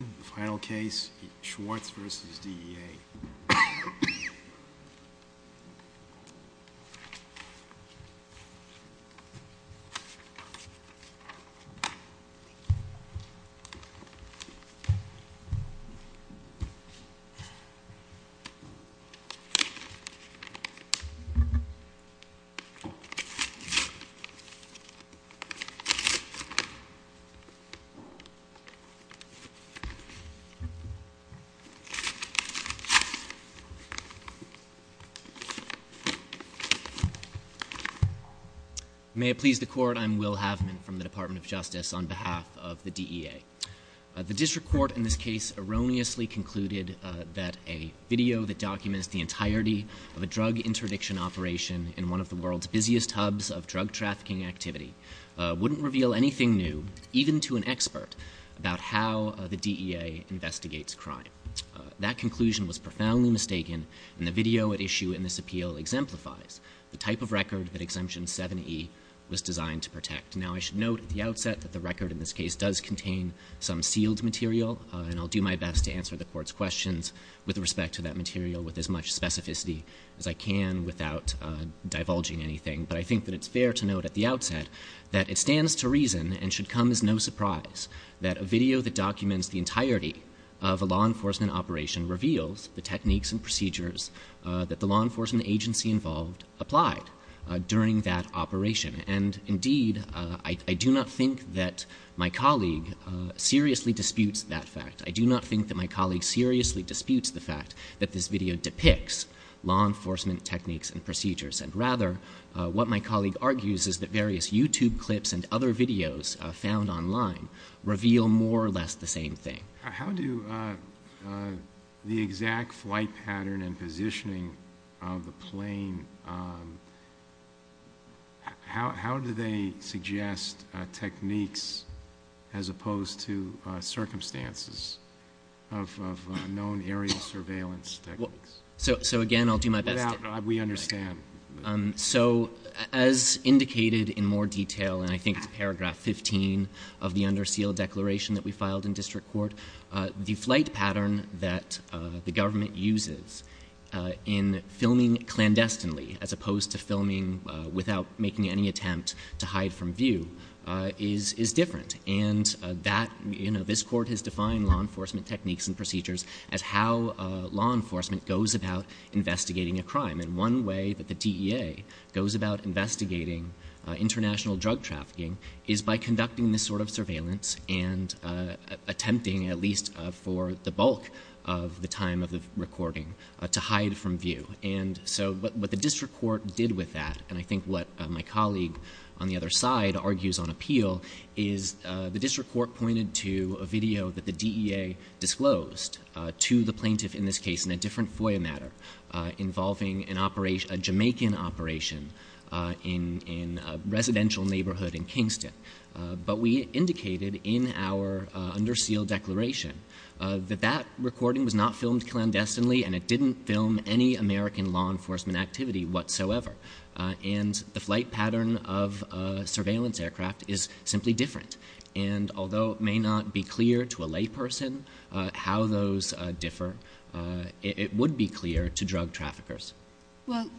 The final case, Schwartz v. DEA. May it please the court, I'm Will Havman from the Department of Justice on behalf of the DEA. The district court in this case erroneously concluded that a video that documents the entirety of a drug interdiction operation in one of the world's busiest hubs of drug trafficking activity wouldn't reveal anything new, even to an expert, about how the DEA investigates crime. That conclusion was profoundly mistaken, and the video at issue in this appeal exemplifies the type of record that Exemption 7e was designed to protect. Now, I should note at the outset that the record in this case does contain some sealed material, and I'll do my best to answer the court's questions with respect to that material with as much specificity as I can without divulging anything. But I think that it's fair to note at the outset that it stands to reason and should come as no surprise that a video that documents the entirety of a law enforcement operation reveals the techniques and procedures that the law enforcement agency involved applied during that operation. And, indeed, I do not think that my colleague seriously disputes that fact. I do not think that my colleague seriously disputes the fact that this video depicts law enforcement techniques and procedures. And, rather, what my colleague argues is that various YouTube clips and other videos found online reveal more or less the same thing. How do the exact flight pattern and positioning of the plane, how do they suggest techniques as opposed to circumstances of known area surveillance techniques? So, again, I'll do my best. We understand. So, as indicated in more detail, and I think it's paragraph 15 of the under seal declaration that we filed in district court, the flight pattern that the government uses in filming clandestinely as opposed to filming without making any attempt to hide from view is different. And that, you know, this court has defined law enforcement techniques and procedures as how law enforcement goes about investigating a crime. And one way that the DEA goes about investigating international drug trafficking is by conducting this sort of surveillance and attempting, at least for the bulk of the time of the recording, to hide from view. And so what the district court did with that, and I think what my colleague on the other side argues on appeal, is the district court pointed to a video that the DEA disclosed to the plaintiff in this case in a different FOIA matter involving a Jamaican operation in a residential neighborhood in Kingston. But we indicated in our under seal declaration that that recording was not filmed clandestinely and it didn't film any American law enforcement activity whatsoever. And the flight pattern of surveillance aircraft is simply different. And although it may not be clear to a layperson how those differ, it would be clear to drug traffickers. Well,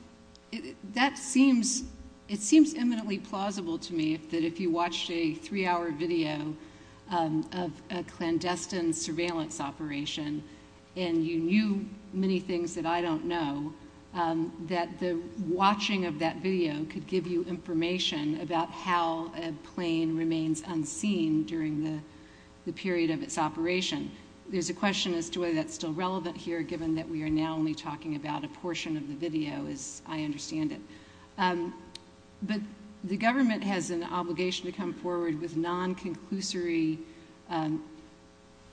it seems eminently plausible to me that if you watched a three hour video of a clandestine surveillance operation and you knew many things that I don't know, that the watching of that video could give you information about how a plane remains unseen during the period of its operation. There's a question as to whether that's still relevant here given that we are now only talking about a portion of the video as I understand it. But the government has an obligation to come forward with non-conclusory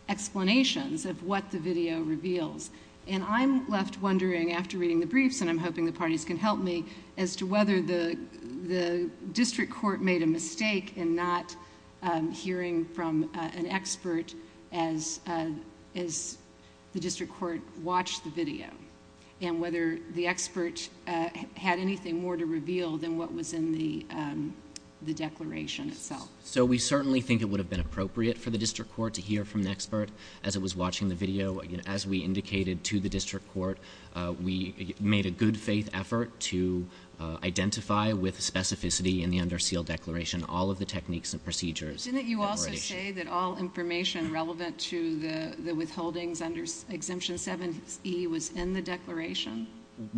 explanations of what the video reveals. And I'm left wondering after reading the briefs, and I'm hoping the parties can help me, as to whether the district court made a mistake in not hearing from an expert as the district court watched the video. And whether the expert had anything more to reveal than what was in the declaration itself. So we certainly think it would have been appropriate for the district court to hear from an expert as it was watching the video. As we indicated to the district court, we made a good faith effort to identify with specificity in the under seal declaration all of the techniques and procedures. Didn't you also say that all information relevant to the withholdings under Exemption 7E was in the declaration?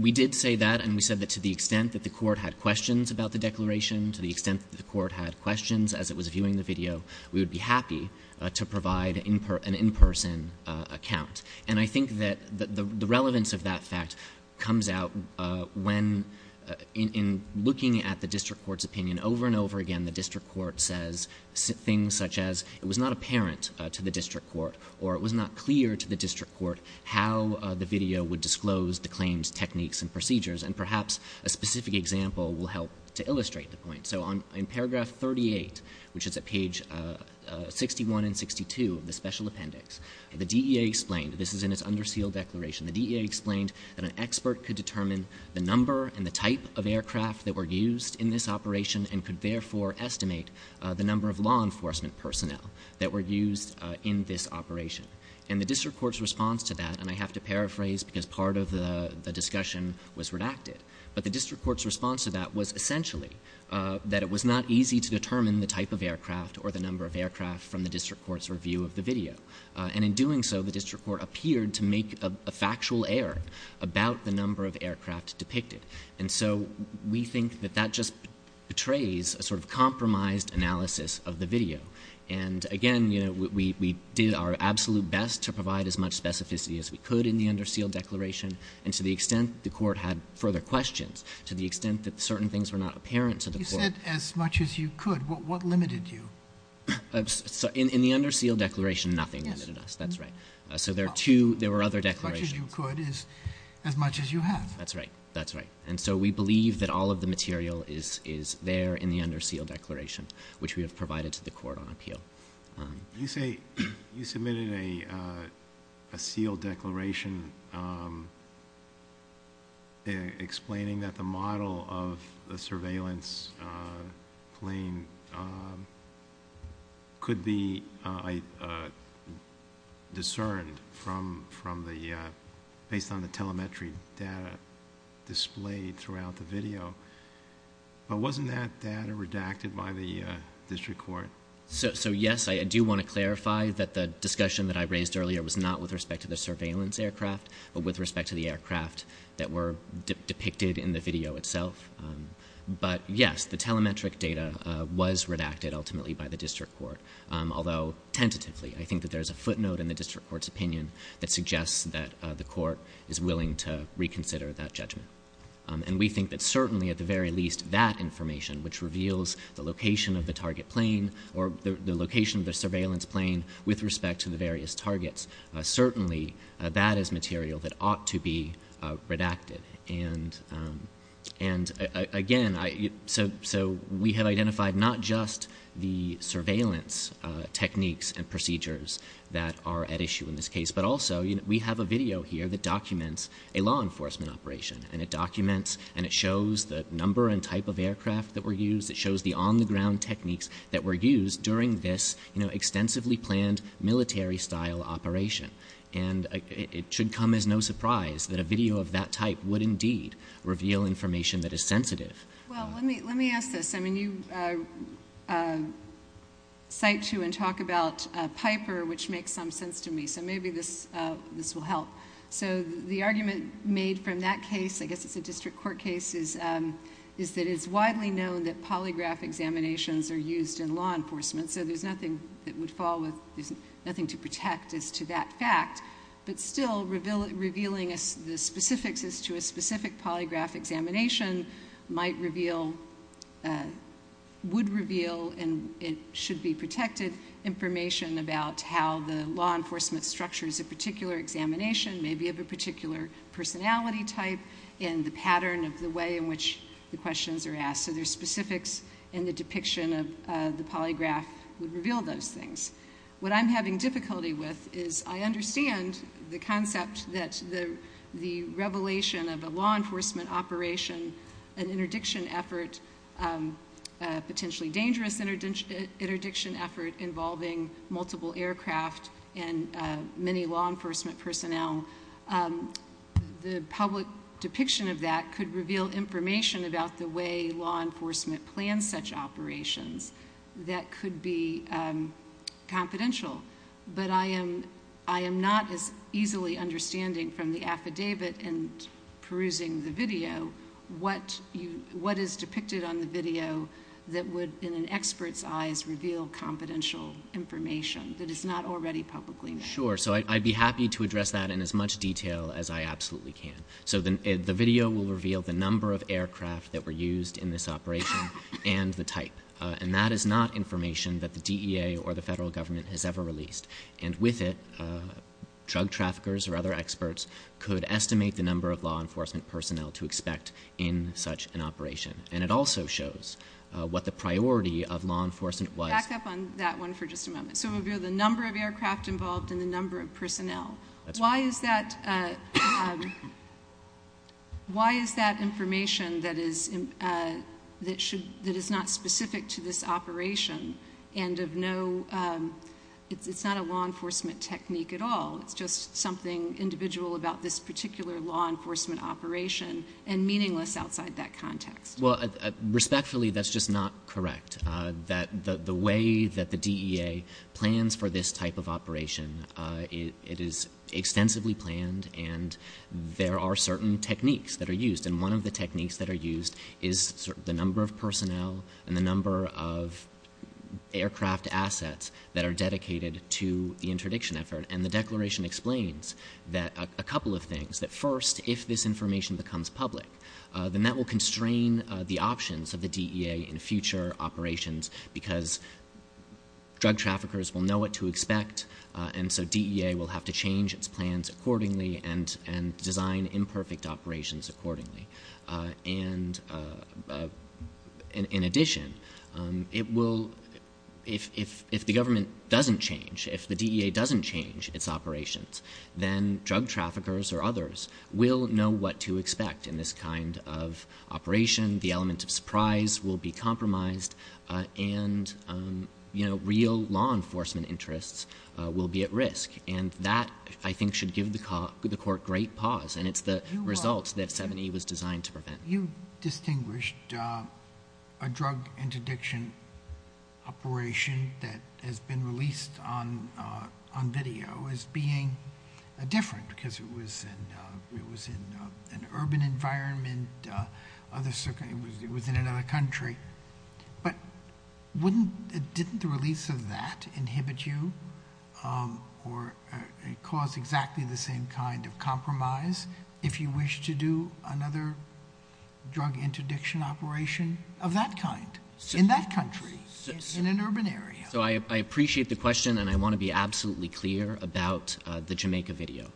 We did say that. And we said that to the extent that the court had questions about the declaration, to the extent that the court had questions as it was viewing the video, we would be happy to provide an in-person account. And I think that the relevance of that fact comes out when in looking at the district court's opinion over and over again, the district court says things such as it was not apparent to the district court, or it was not clear to the district court how the video would disclose the claims, techniques, and procedures. And perhaps a specific example will help to illustrate the point. So in paragraph 38, which is at page 61 and 62 of the special appendix, the DEA explained, this is in its under seal declaration, the DEA explained that an expert could determine the number and the type of aircraft that were used in this operation and could therefore estimate the number of law enforcement personnel that were used in this operation. And the district court's response to that, and I have to paraphrase because part of the discussion was redacted, but the district court's response to that was essentially that it was not easy to determine the type of aircraft or the number of aircraft from the district court's review of the video. And in doing so, the district court appeared to make a factual error about the number of aircraft depicted. And so we think that that just betrays a sort of compromised analysis of the video. And again, we did our absolute best to provide as much specificity as we could in the under seal declaration. And to the extent the court had further questions, to the extent that certain things were not apparent to the court. You said as much as you could. What limited you? In the under seal declaration, nothing limited us. That's right. So there were other declarations. As much as you could is as much as you have. That's right. That's right. And so we believe that all of the material is there in the under seal declaration, which we have provided to the court on appeal. You submitted a seal declaration explaining that the model of the surveillance plane could be discerned based on the telemetry data displayed throughout the video. But wasn't that data redacted by the district court? So yes, I do want to clarify that the discussion that I raised earlier was not with respect to the surveillance aircraft, but with respect to the aircraft that were depicted in the video itself. But yes, the telemetric data was redacted ultimately by the district court, although tentatively. I think that there's a footnote in the district court's opinion that suggests that the court is willing to reconsider that judgment. And we think that certainly at the very least that information, which reveals the location of the target plane, or the location of the surveillance plane with respect to the various targets, certainly that is material that ought to be redacted. And again, so we have identified not just the surveillance techniques and procedures that are at issue in this case, but also we have a video here that documents a law enforcement operation. And it documents and it shows the number and type of aircraft that were used. It shows the on-the-ground techniques that were used during this extensively planned military-style operation. And it should come as no surprise that a video of that type would indeed reveal information that is sensitive. Well, let me ask this. I mean, you cite to and talk about Piper, which makes some sense to me. So maybe this will help. So the argument made from that case, I guess it's a district court case, is that it's widely known that polygraph examinations are used in law enforcement. So there's nothing that would fall with, there's nothing to protect as to that fact. But still, revealing the specifics as to a specific polygraph examination might reveal, would reveal, and it should be protected information about how the law enforcement structures a particular examination, maybe of a particular personality type and the pattern of the way in which the questions are asked. So there's specifics in the depiction of the polygraph would reveal those things. What I'm having difficulty with is I understand the concept that the revelation of a law enforcement operation, an interdiction effort, potentially dangerous interdiction effort involving multiple aircraft and many law enforcement personnel, the public depiction of that could reveal information about the way law enforcement plans such operations that could be confidential. But I am not as easily understanding from the affidavit and perusing the video what is depicted on the video that would, in an expert's eyes, reveal confidential information that is not already publicly known. Sure. So I'd be happy to address that in as much detail as I absolutely can. So the video will reveal the number of aircraft that were used in this operation and the type. And that is not information that the DEA or the federal government has ever released. And with it, drug traffickers or other experts could estimate the number of law enforcement personnel to expect in such an operation. And it also shows what the priority of law enforcement was. Back up on that one for just a moment. So it would reveal the number of aircraft involved and the number of personnel. That's right. Why is that information that is not specific to this operation and of no ‑‑ it's not a law enforcement technique at all. It's just something individual about this particular law enforcement operation and meaningless outside that context. Well, respectfully, that's just not correct. The way that the DEA plans for this type of operation, it is extensively planned. And there are certain techniques that are used. And one of the techniques that are used is the number of personnel and the number of aircraft assets that are dedicated to the interdiction effort. And the declaration explains a couple of things. That first, if this information becomes public, then that will constrain the options of the DEA in future operations because drug traffickers will know what to expect. And so DEA will have to change its plans accordingly and design imperfect operations accordingly. And in addition, it will ‑‑ if the government doesn't change, if the DEA doesn't change its operations, then drug traffickers or others will know what to expect in this kind of operation. The element of surprise will be compromised. And, you know, real law enforcement interests will be at risk. And that, I think, should give the court great pause. And it's the result that 7E was designed to prevent. You distinguished a drug interdiction operation that has been released on video as being different because it was in an urban environment, it was in another country. But wouldn't ‑‑ didn't the release of that inhibit you or cause exactly the same kind of compromise if you wish to do another drug interdiction operation of that kind in that country in an urban area? So I appreciate the question, and I want to be absolutely clear about the Jamaica video,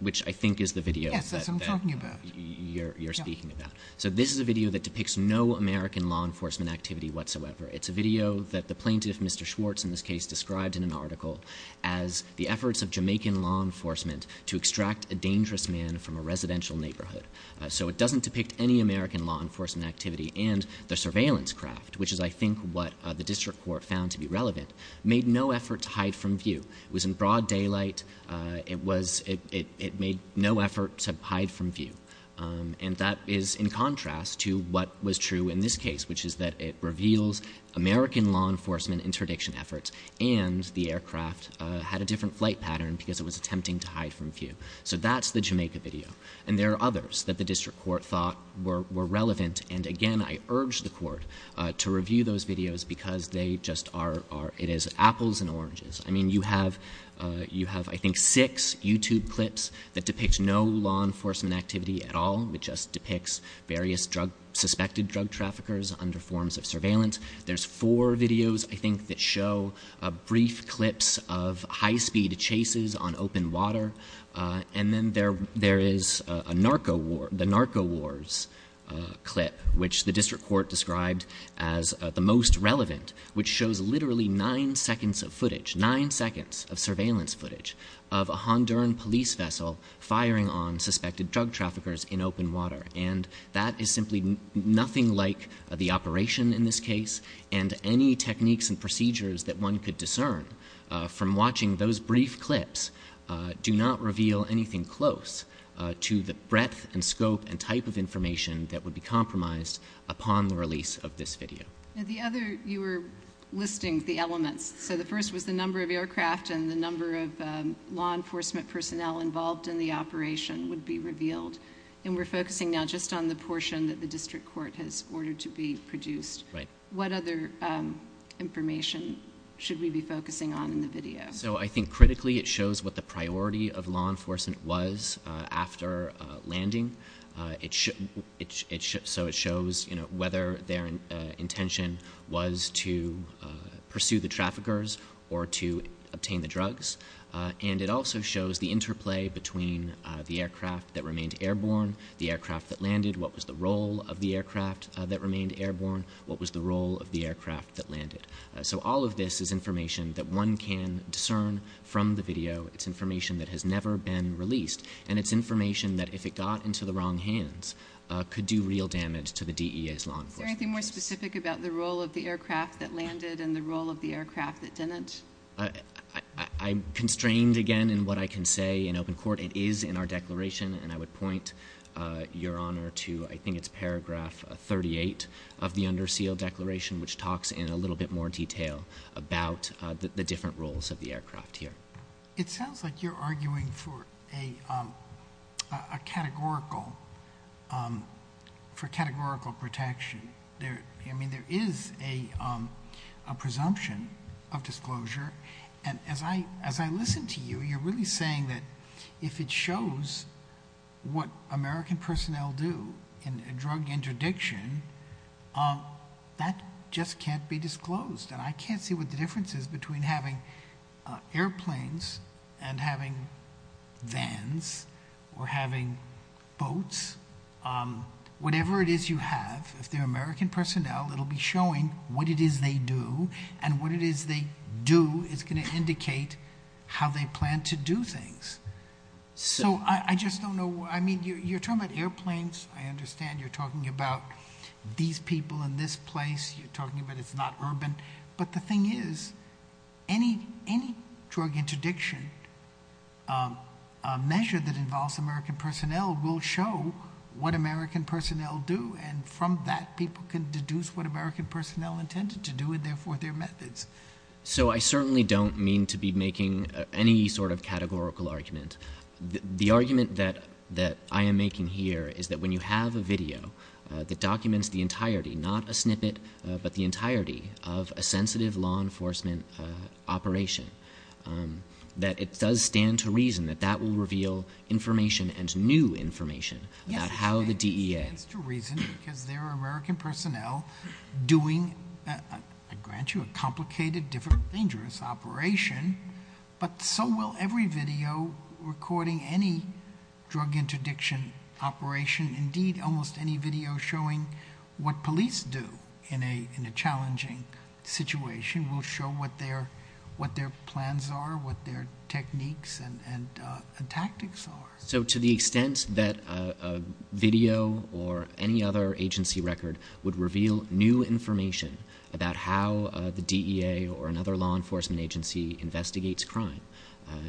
which I think is the video that you're speaking about. So this is a video that depicts no American law enforcement activity whatsoever. It's a video that the plaintiff, Mr. Schwartz, in this case, described in an article as the efforts of Jamaican law enforcement to extract a dangerous man from a residential neighborhood. So it doesn't depict any American law enforcement activity. And the surveillance craft, which is, I think, what the district court found to be relevant, made no effort to hide from view. It was in broad daylight. It was ‑‑ it made no effort to hide from view. And that is in contrast to what was true in this case, which is that it reveals American law enforcement interdiction efforts and the aircraft had a different flight pattern because it was attempting to hide from view. So that's the Jamaica video. And there are others that the district court thought were relevant. And, again, I urge the court to review those videos because they just are ‑‑ it is apples and oranges. I mean, you have ‑‑ you have, I think, six YouTube clips that depict no law enforcement activity at all. It just depicts various drug ‑‑ suspected drug traffickers under forms of surveillance. There's four videos, I think, that show brief clips of high‑speed chases on open water. And then there is a narco war ‑‑ the narco wars clip, which the district court described as the most relevant, which shows literally nine seconds of footage, nine seconds of surveillance footage, of a Honduran police vessel firing on suspected drug traffickers in open water. And that is simply nothing like the operation in this case. And any techniques and procedures that one could discern from watching those brief clips do not reveal anything close to the breadth and scope and type of information that would be compromised upon the release of this video. Now, the other ‑‑ you were listing the elements. So the first was the number of aircraft and the number of law enforcement personnel involved in the operation would be revealed. And we're focusing now just on the portion that the district court has ordered to be produced. Right. What other information should we be focusing on in the video? So I think, critically, it shows what the priority of law enforcement was after landing. So it shows, you know, whether their intention was to pursue the traffickers or to obtain the drugs. And it also shows the interplay between the aircraft that remained airborne, the aircraft that landed, what was the role of the aircraft that remained airborne, what was the role of the aircraft that landed. So all of this is information that one can discern from the video. It's information that has never been released. And it's information that, if it got into the wrong hands, could do real damage to the DEA's law enforcement interest. Is there anything more specific about the role of the aircraft that landed and the role of the aircraft that didn't? I'm constrained, again, in what I can say in open court. It is in our declaration. And I would point Your Honor to, I think it's paragraph 38 of the under seal declaration, which talks in a little bit more detail about the different roles of the aircraft here. It sounds like you're arguing for a categorical protection. I mean, there is a presumption of disclosure. And as I listen to you, you're really saying that if it shows what American personnel do in a drug interdiction, that just can't be disclosed. And I can't see what the difference is between having airplanes and having vans or having boats. Whatever it is you have, if they're American personnel, it'll be showing what it is they do. And what it is they do is going to indicate how they plan to do things. So I just don't know. I mean, you're talking about airplanes. I understand you're talking about these people in this place. You're talking about it's not urban. But the thing is, any drug interdiction measure that involves American personnel will show what American personnel do. And from that, people can deduce what American personnel intended to do and, therefore, their methods. So I certainly don't mean to be making any sort of categorical argument. The argument that I am making here is that when you have a video that documents the entirety, not a snippet, but the entirety of a sensitive law enforcement operation, that it does stand to reason that that will reveal information and new information about how the DEA. Yes, it stands to reason because there are American personnel doing, I grant you, a complicated, different, dangerous operation. But so will every video recording any drug interdiction operation. Indeed, almost any video showing what police do in a challenging situation will show what their plans are, what their techniques and tactics are. So to the extent that a video or any other agency record would reveal new information about how the DEA or another law enforcement agency investigates crime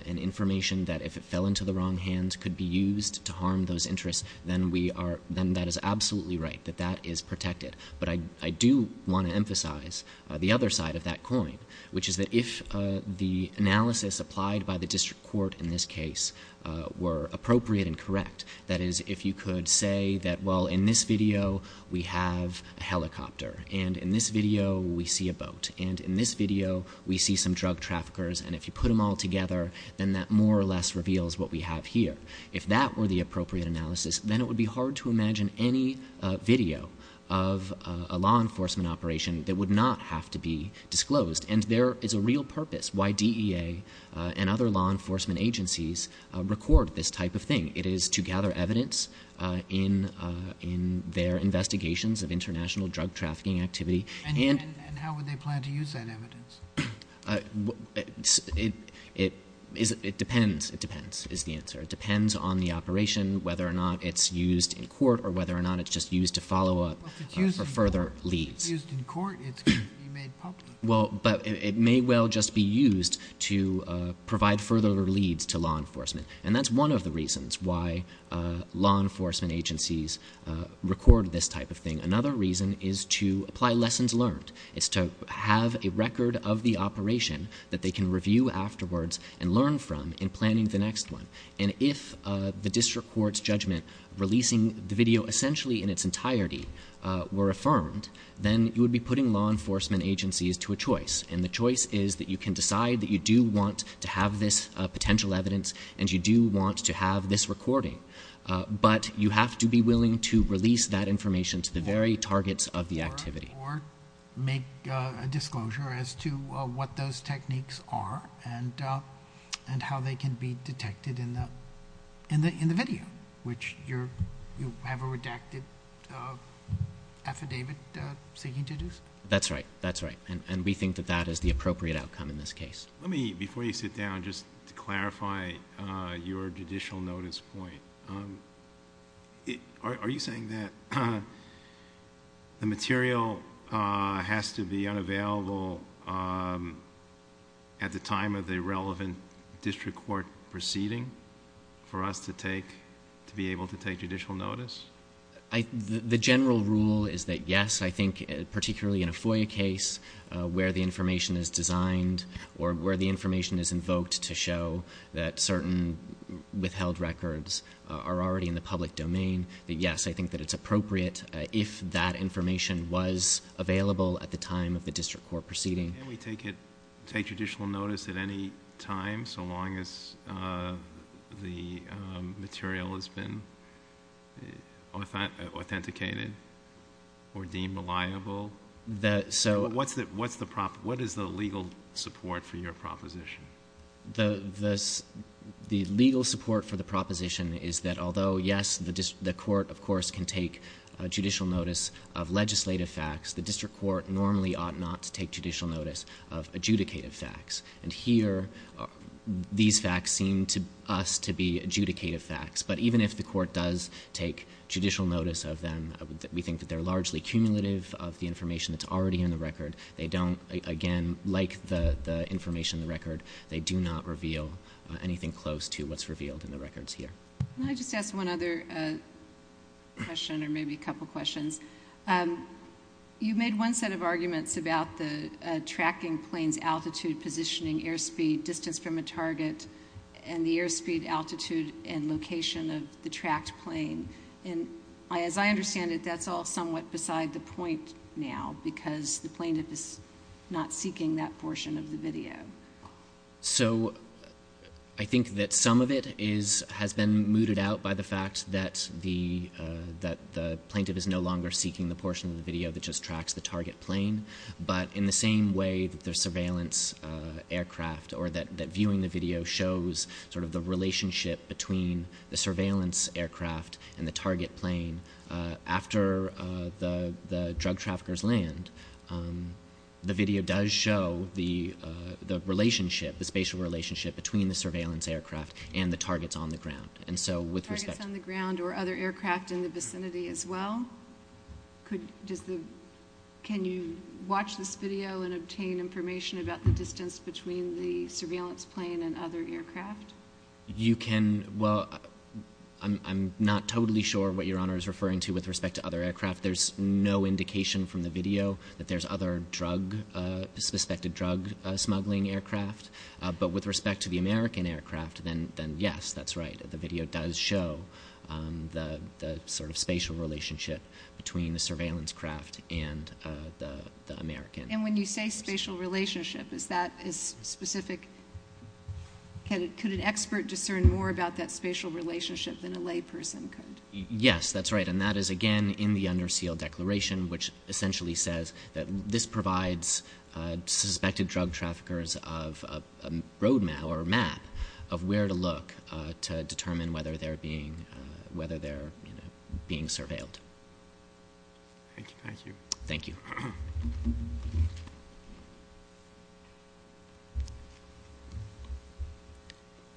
and information that, if it fell into the wrong hands, could be used to harm those interests, then that is absolutely right, that that is protected. But I do want to emphasize the other side of that coin, which is that if the analysis applied by the district court in this case were appropriate and correct, that is, if you could say that, well, in this video, we have a helicopter, and in this video, we see a boat, and in this video, we see some drug traffickers, and if you put them all together, then that more or less reveals what we have here. If that were the appropriate analysis, then it would be hard to imagine any video of a law enforcement operation that would not have to be disclosed. And there is a real purpose why DEA and other law enforcement agencies record this type of thing. It is to gather evidence in their investigations of international drug trafficking activity. And how would they plan to use that evidence? It depends, it depends, is the answer. It depends on the operation, whether or not it's used in court or whether or not it's just used to follow up for further leads. If it's used in court, it's going to be made public. Well, but it may well just be used to provide further leads to law enforcement. And that's one of the reasons why law enforcement agencies record this type of thing. Another reason is to apply lessons learned. It's to have a record of the operation that they can review afterwards and learn from in planning the next one. And if the district court's judgment releasing the video essentially in its entirety were affirmed, then you would be putting law enforcement agencies to a choice. And the choice is that you can decide that you do want to have this potential evidence and you do want to have this recording. But you have to be willing to release that information to the very targets of the activity. Or make a disclosure as to what those techniques are and how they can be detected in the video, which you have a redacted affidavit seeking to do so. That's right. That's right. And we think that that is the appropriate outcome in this case. Let me, before you sit down, just to clarify your judicial notice point. Are you saying that the material has to be unavailable at the time of the relevant district court proceeding for us to be able to take judicial notice? The general rule is that yes. I think particularly in a FOIA case where the information is designed or where the information is invoked to show that certain withheld records are already in the public domain. That yes, I think that it's appropriate if that information was available at the time of the district court proceeding. Can we take judicial notice at any time so long as the material has been authenticated or deemed reliable? What is the legal support for your proposition? The legal support for the proposition is that although yes, the court, of course, can take judicial notice of legislative facts, the district court normally ought not to take judicial notice of adjudicative facts. And here, these facts seem to us to be adjudicative facts. But even if the court does take judicial notice of them, we think that they're largely cumulative of the information that's already in the record. They don't, again, like the information in the record. They do not reveal anything close to what's revealed in the records here. Can I just ask one other question or maybe a couple questions? You made one set of arguments about the tracking plane's altitude, positioning, airspeed, distance from a target, and the airspeed, altitude, and location of the tracked plane. And as I understand it, that's all somewhat beside the point now because the plaintiff is not seeking that portion of the video. So I think that some of it has been mooted out by the fact that the plaintiff is no longer seeking the portion of the video that just tracks the target plane. But in the same way that the surveillance aircraft or that viewing the video shows sort of the relationship between the surveillance aircraft and the target plane, after the drug traffickers land, the video does show the relationship, the spatial relationship, between the surveillance aircraft and the targets on the ground. Targets on the ground or other aircraft in the vicinity as well? Can you watch this video and obtain information about the distance between the surveillance plane and other aircraft? You can. Well, I'm not totally sure what Your Honor is referring to with respect to other aircraft. There's no indication from the video that there's other drug, suspected drug smuggling aircraft. But with respect to the American aircraft, then yes, that's right. The video does show the sort of spatial relationship between the surveillance craft and the American. And when you say spatial relationship, is that specific? Could an expert discern more about that spatial relationship than a layperson could? Yes, that's right. And that is, again, in the under seal declaration, which essentially says that this provides suspected drug traffickers a roadmap or a map of where to look to determine whether they're being surveilled. Thank you. Thank you.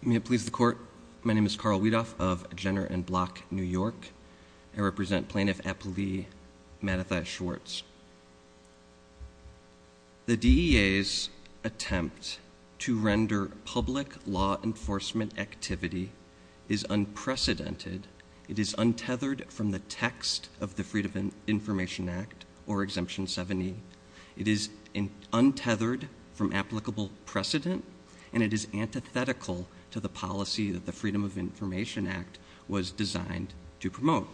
May it please the court. My name is Carl Weedoff of Jenner and Block, New York. I represent Plaintiff Appellee Matthew Schwartz. The DEA's attempt to render public law enforcement activity is unprecedented. It is untethered from the text of the Freedom of Information Act or Exemption 70. It is untethered from applicable precedent, and it is antithetical to the policy that the Freedom of Information Act was designed to promote.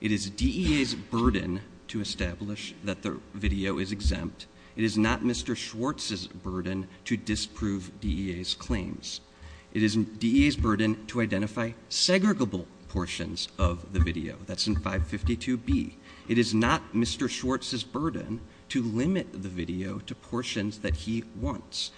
It is DEA's burden to establish that the video is exempt. It is not Mr. Schwartz's burden to disprove DEA's claims. It is DEA's burden to identify segregable portions of the video. That's in 552B. It is not Mr. Schwartz's burden to limit the video to portions that he wants.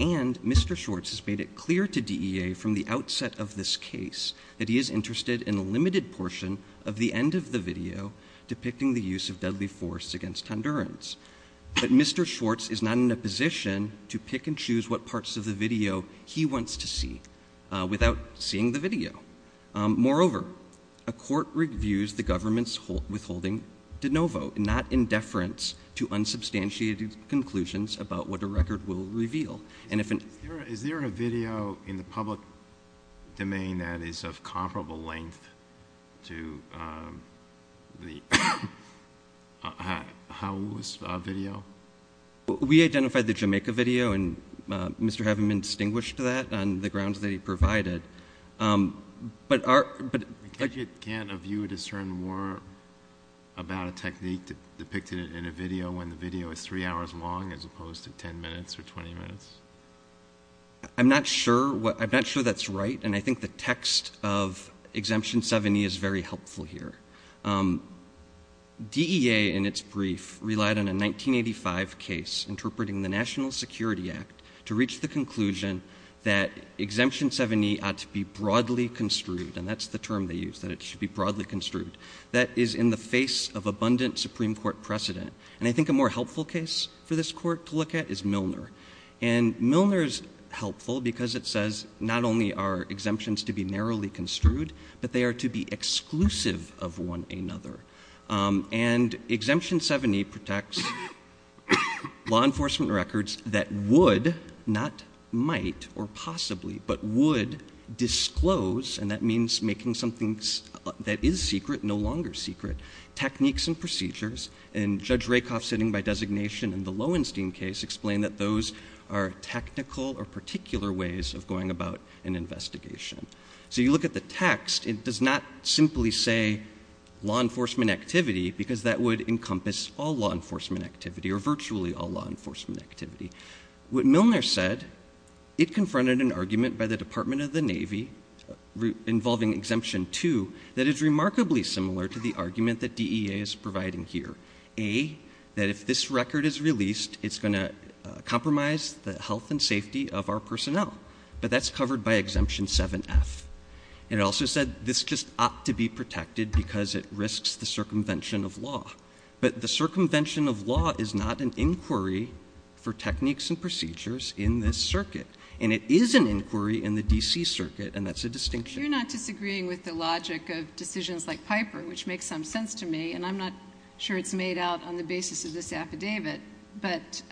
And Mr. Schwartz has made it clear to DEA from the outset of this case that he is interested in a limited portion of the end of the video depicting the use of deadly force against Hondurans. But Mr. Schwartz is not in a position to pick and choose what parts of the video he wants to see without seeing the video. Moreover, a court reviews the government's withholding de novo, not in deference to unsubstantiated conclusions about what a record will reveal. Is there a video in the public domain that is of comparable length to the Hawoos video? We identified the Jamaica video, and Mr. Havenman distinguished that on the grounds that he provided. But our... Can't a viewer discern more about a technique depicted in a video when the video is three hours long as opposed to 10 minutes or 20 minutes? I'm not sure that's right, and I think the text of Exemption 70 is very helpful here. DEA, in its brief, relied on a 1985 case interpreting the National Security Act to reach the conclusion that Exemption 70 ought to be broadly construed. And that's the term they used, that it should be broadly construed. That is in the face of abundant Supreme Court precedent. And I think a more helpful case for this Court to look at is Milner. And Milner is helpful because it says not only are exemptions to be narrowly construed, but they are to be exclusive of one another. And Exemption 70 protects law enforcement records that would, not might or possibly, but would disclose, and that means making something that is secret no longer secret, techniques and procedures. And Judge Rakoff, sitting by designation in the Lowenstein case, explained that those are technical or particular ways of going about an investigation. So you look at the text. It does not simply say law enforcement activity because that would encompass all law enforcement activity or virtually all law enforcement activity. What Milner said, it confronted an argument by the Department of the Navy involving Exemption 2 that is remarkably similar to the argument that DEA is providing here. A, that if this record is released, it's going to compromise the health and safety of our personnel. But that's covered by Exemption 7F. And it also said this just ought to be protected because it risks the circumvention of law. But the circumvention of law is not an inquiry for techniques and procedures in this circuit. And it is an inquiry in the D.C. circuit, and that's a distinction. You're not disagreeing with the logic of decisions like Piper, which makes some sense to me, and I'm not sure it's made out on the basis of this affidavit. But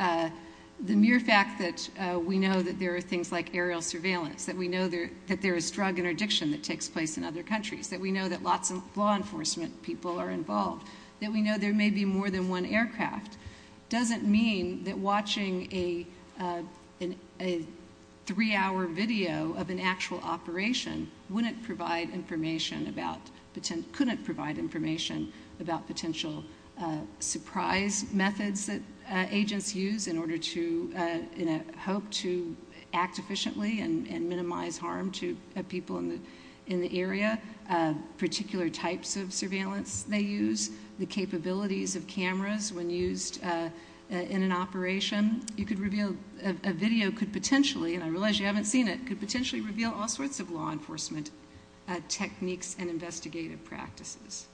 the mere fact that we know that there are things like aerial surveillance, that we know that there is drug interdiction that takes place in other countries, that we know that lots of law enforcement people are involved, that we know there may be more than one aircraft, doesn't mean that watching a three-hour video of an actual operation couldn't provide information about potential surprise methods that agents use in a hope to act efficiently and minimize harm to people in the area, particular types of surveillance they use, the capabilities of cameras when used in an operation. A video could potentially, and I realize you haven't seen it, could potentially reveal all sorts of law enforcement techniques and investigative practices.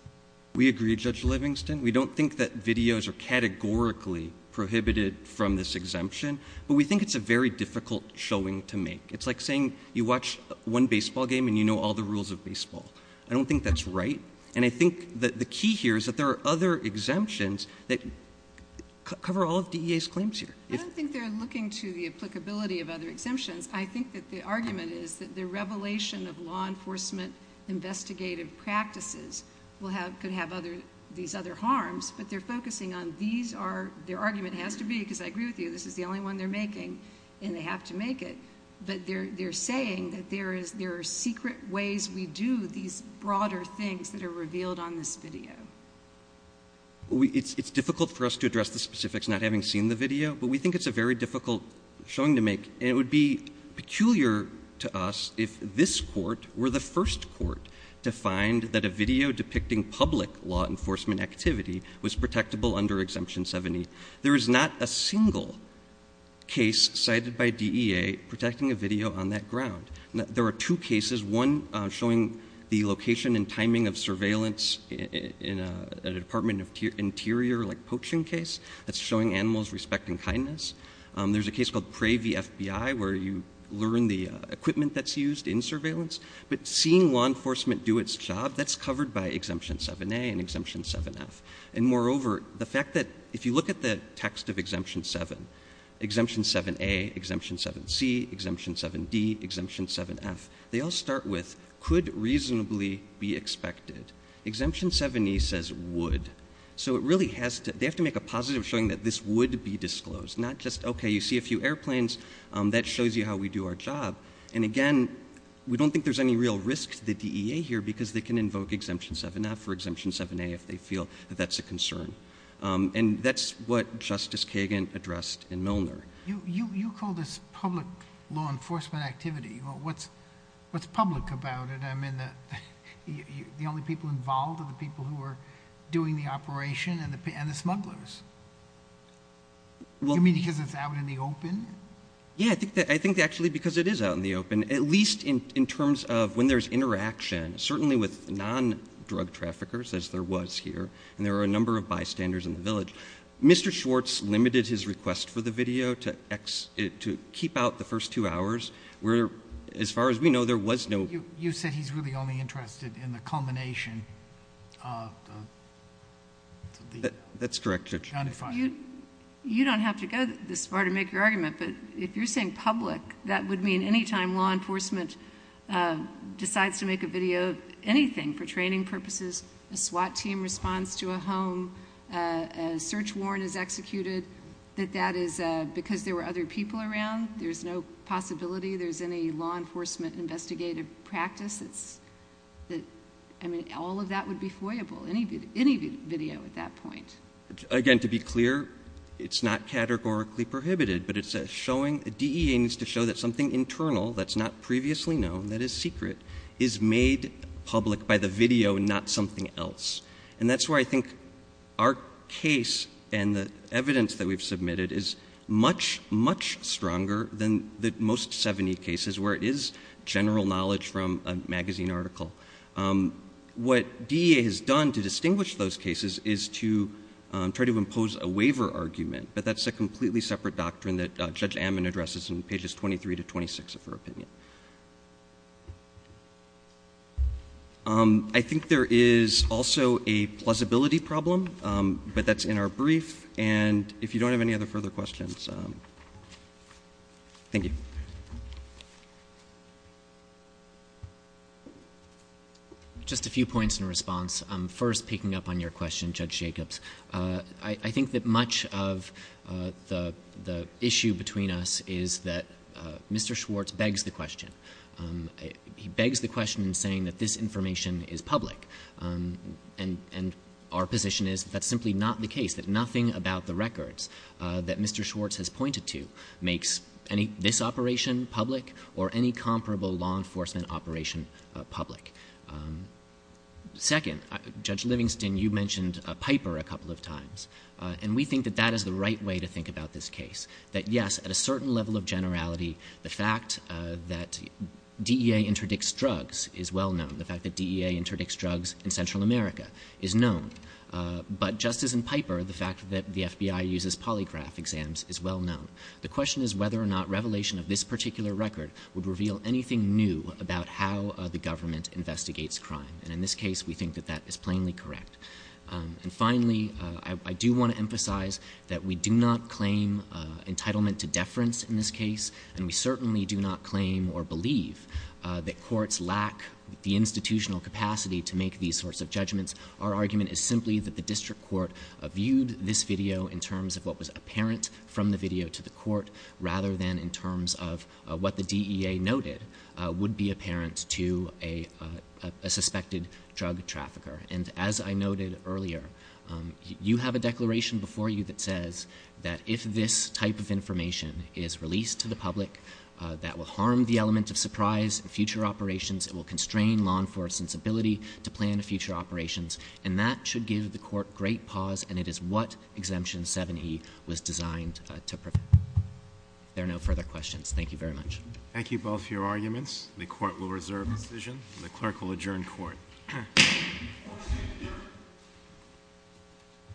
We agree, Judge Livingston. We don't think that videos are categorically prohibited from this exemption, but we think it's a very difficult showing to make. It's like saying you watch one baseball game and you know all the rules of baseball. I don't think that's right, and I think that the key here is that there are other exemptions that cover all of DEA's claims here. I don't think they're looking to the applicability of other exemptions. I think that the argument is that the revelation of law enforcement investigative practices could have these other harms, but they're focusing on these are, their argument has to be, because I agree with you, this is the only one they're making and they have to make it, but they're saying that there are secret ways we do these broader things that are revealed on this video. It's difficult for us to address the specifics not having seen the video, but we think it's a very difficult showing to make, and it would be peculiar to us if this court were the first court to find that a video depicting public law enforcement activity was protectable under Exemption 70. There is not a single case cited by DEA protecting a video on that ground. There are two cases, one showing the location and timing of surveillance in a Department of Interior poaching case that's showing animals respecting kindness. There's a case called Pravey FBI where you learn the equipment that's used in surveillance, but seeing law enforcement do its job, that's covered by Exemption 7A and Exemption 7F. And moreover, the fact that if you look at the text of Exemption 7, Exemption 7A, Exemption 7C, Exemption 7D, Exemption 7F, they all start with could reasonably be expected. Exemption 7E says would, so it really has to, they have to make a positive showing that this would be disclosed, not just, okay, you see a few airplanes, that shows you how we do our job. And again, we don't think there's any real risk to the DEA here because they can invoke Exemption 7F or Exemption 7A if they feel that that's a concern. And that's what Justice Kagan addressed in Milner. You call this public law enforcement activity. What's public about it? I mean, the only people involved are the people who are doing the operation and the smugglers. You mean because it's out in the open? Yeah, I think actually because it is out in the open, at least in terms of when there's interaction, certainly with non-drug traffickers, as there was here, and there were a number of bystanders in the village. Mr. Schwartz limited his request for the video to keep out the first two hours. As far as we know, there was no- You said he's really only interested in the culmination of the- That's correct, Judge. You don't have to go this far to make your argument, but if you're saying public, that would mean any time law enforcement decides to make a video of anything for training purposes, a SWAT team responds to a home, a search warrant is executed, that that is because there were other people around. There's no possibility there's any law enforcement investigative practice. I mean, all of that would be foyable, any video at that point. Again, to be clear, it's not categorically prohibited, but DEA needs to show that something internal that's not previously known, that is secret, is made public by the video and not something else. And that's why I think our case and the evidence that we've submitted is much, much stronger than the most 70 cases where it is general knowledge from a magazine article. What DEA has done to distinguish those cases is to try to impose a waiver argument, but that's a completely separate doctrine that Judge Amman addresses in pages 23 to 26 of her opinion. I think there is also a plausibility problem, but that's in our brief, and if you don't have any other further questions, thank you. Just a few points in response. First, picking up on your question, Judge Jacobs, I think that much of the issue between us is that Mr. Schwartz begs the question. He begs the question in saying that this information is public, and our position is that that's simply not the case, that nothing about the records that Mr. Schwartz has pointed to makes this operation public or any comparable law enforcement operation public. Second, Judge Livingston, you mentioned Piper a couple of times, and we think that that is the right way to think about this case, that yes, at a certain level of generality, the fact that DEA interdicts drugs is well known. The fact that DEA interdicts drugs in Central America is known. But just as in Piper, the fact that the FBI uses polygraph exams is well known. The question is whether or not revelation of this particular record would reveal anything new about how the government investigates crime, and in this case, we think that that is plainly correct. And finally, I do want to emphasize that we do not claim entitlement to deference in this case, and we certainly do not claim or believe that courts lack the institutional capacity to make these sorts of judgments. Our argument is simply that the district court viewed this video in terms of what was apparent from the video to the court, rather than in terms of what the DEA noted would be apparent to a suspected drug trafficker. And as I noted earlier, you have a declaration before you that says that if this type of information is released to the public, that will harm the element of surprise in future operations. It will constrain law enforcement's ability to plan future operations. And that should give the court great pause, and it is what Exemption 7e was designed to prevent. If there are no further questions, thank you very much. Thank you both for your arguments. The court will reserve its decision, and the clerk will adjourn court. Thank you.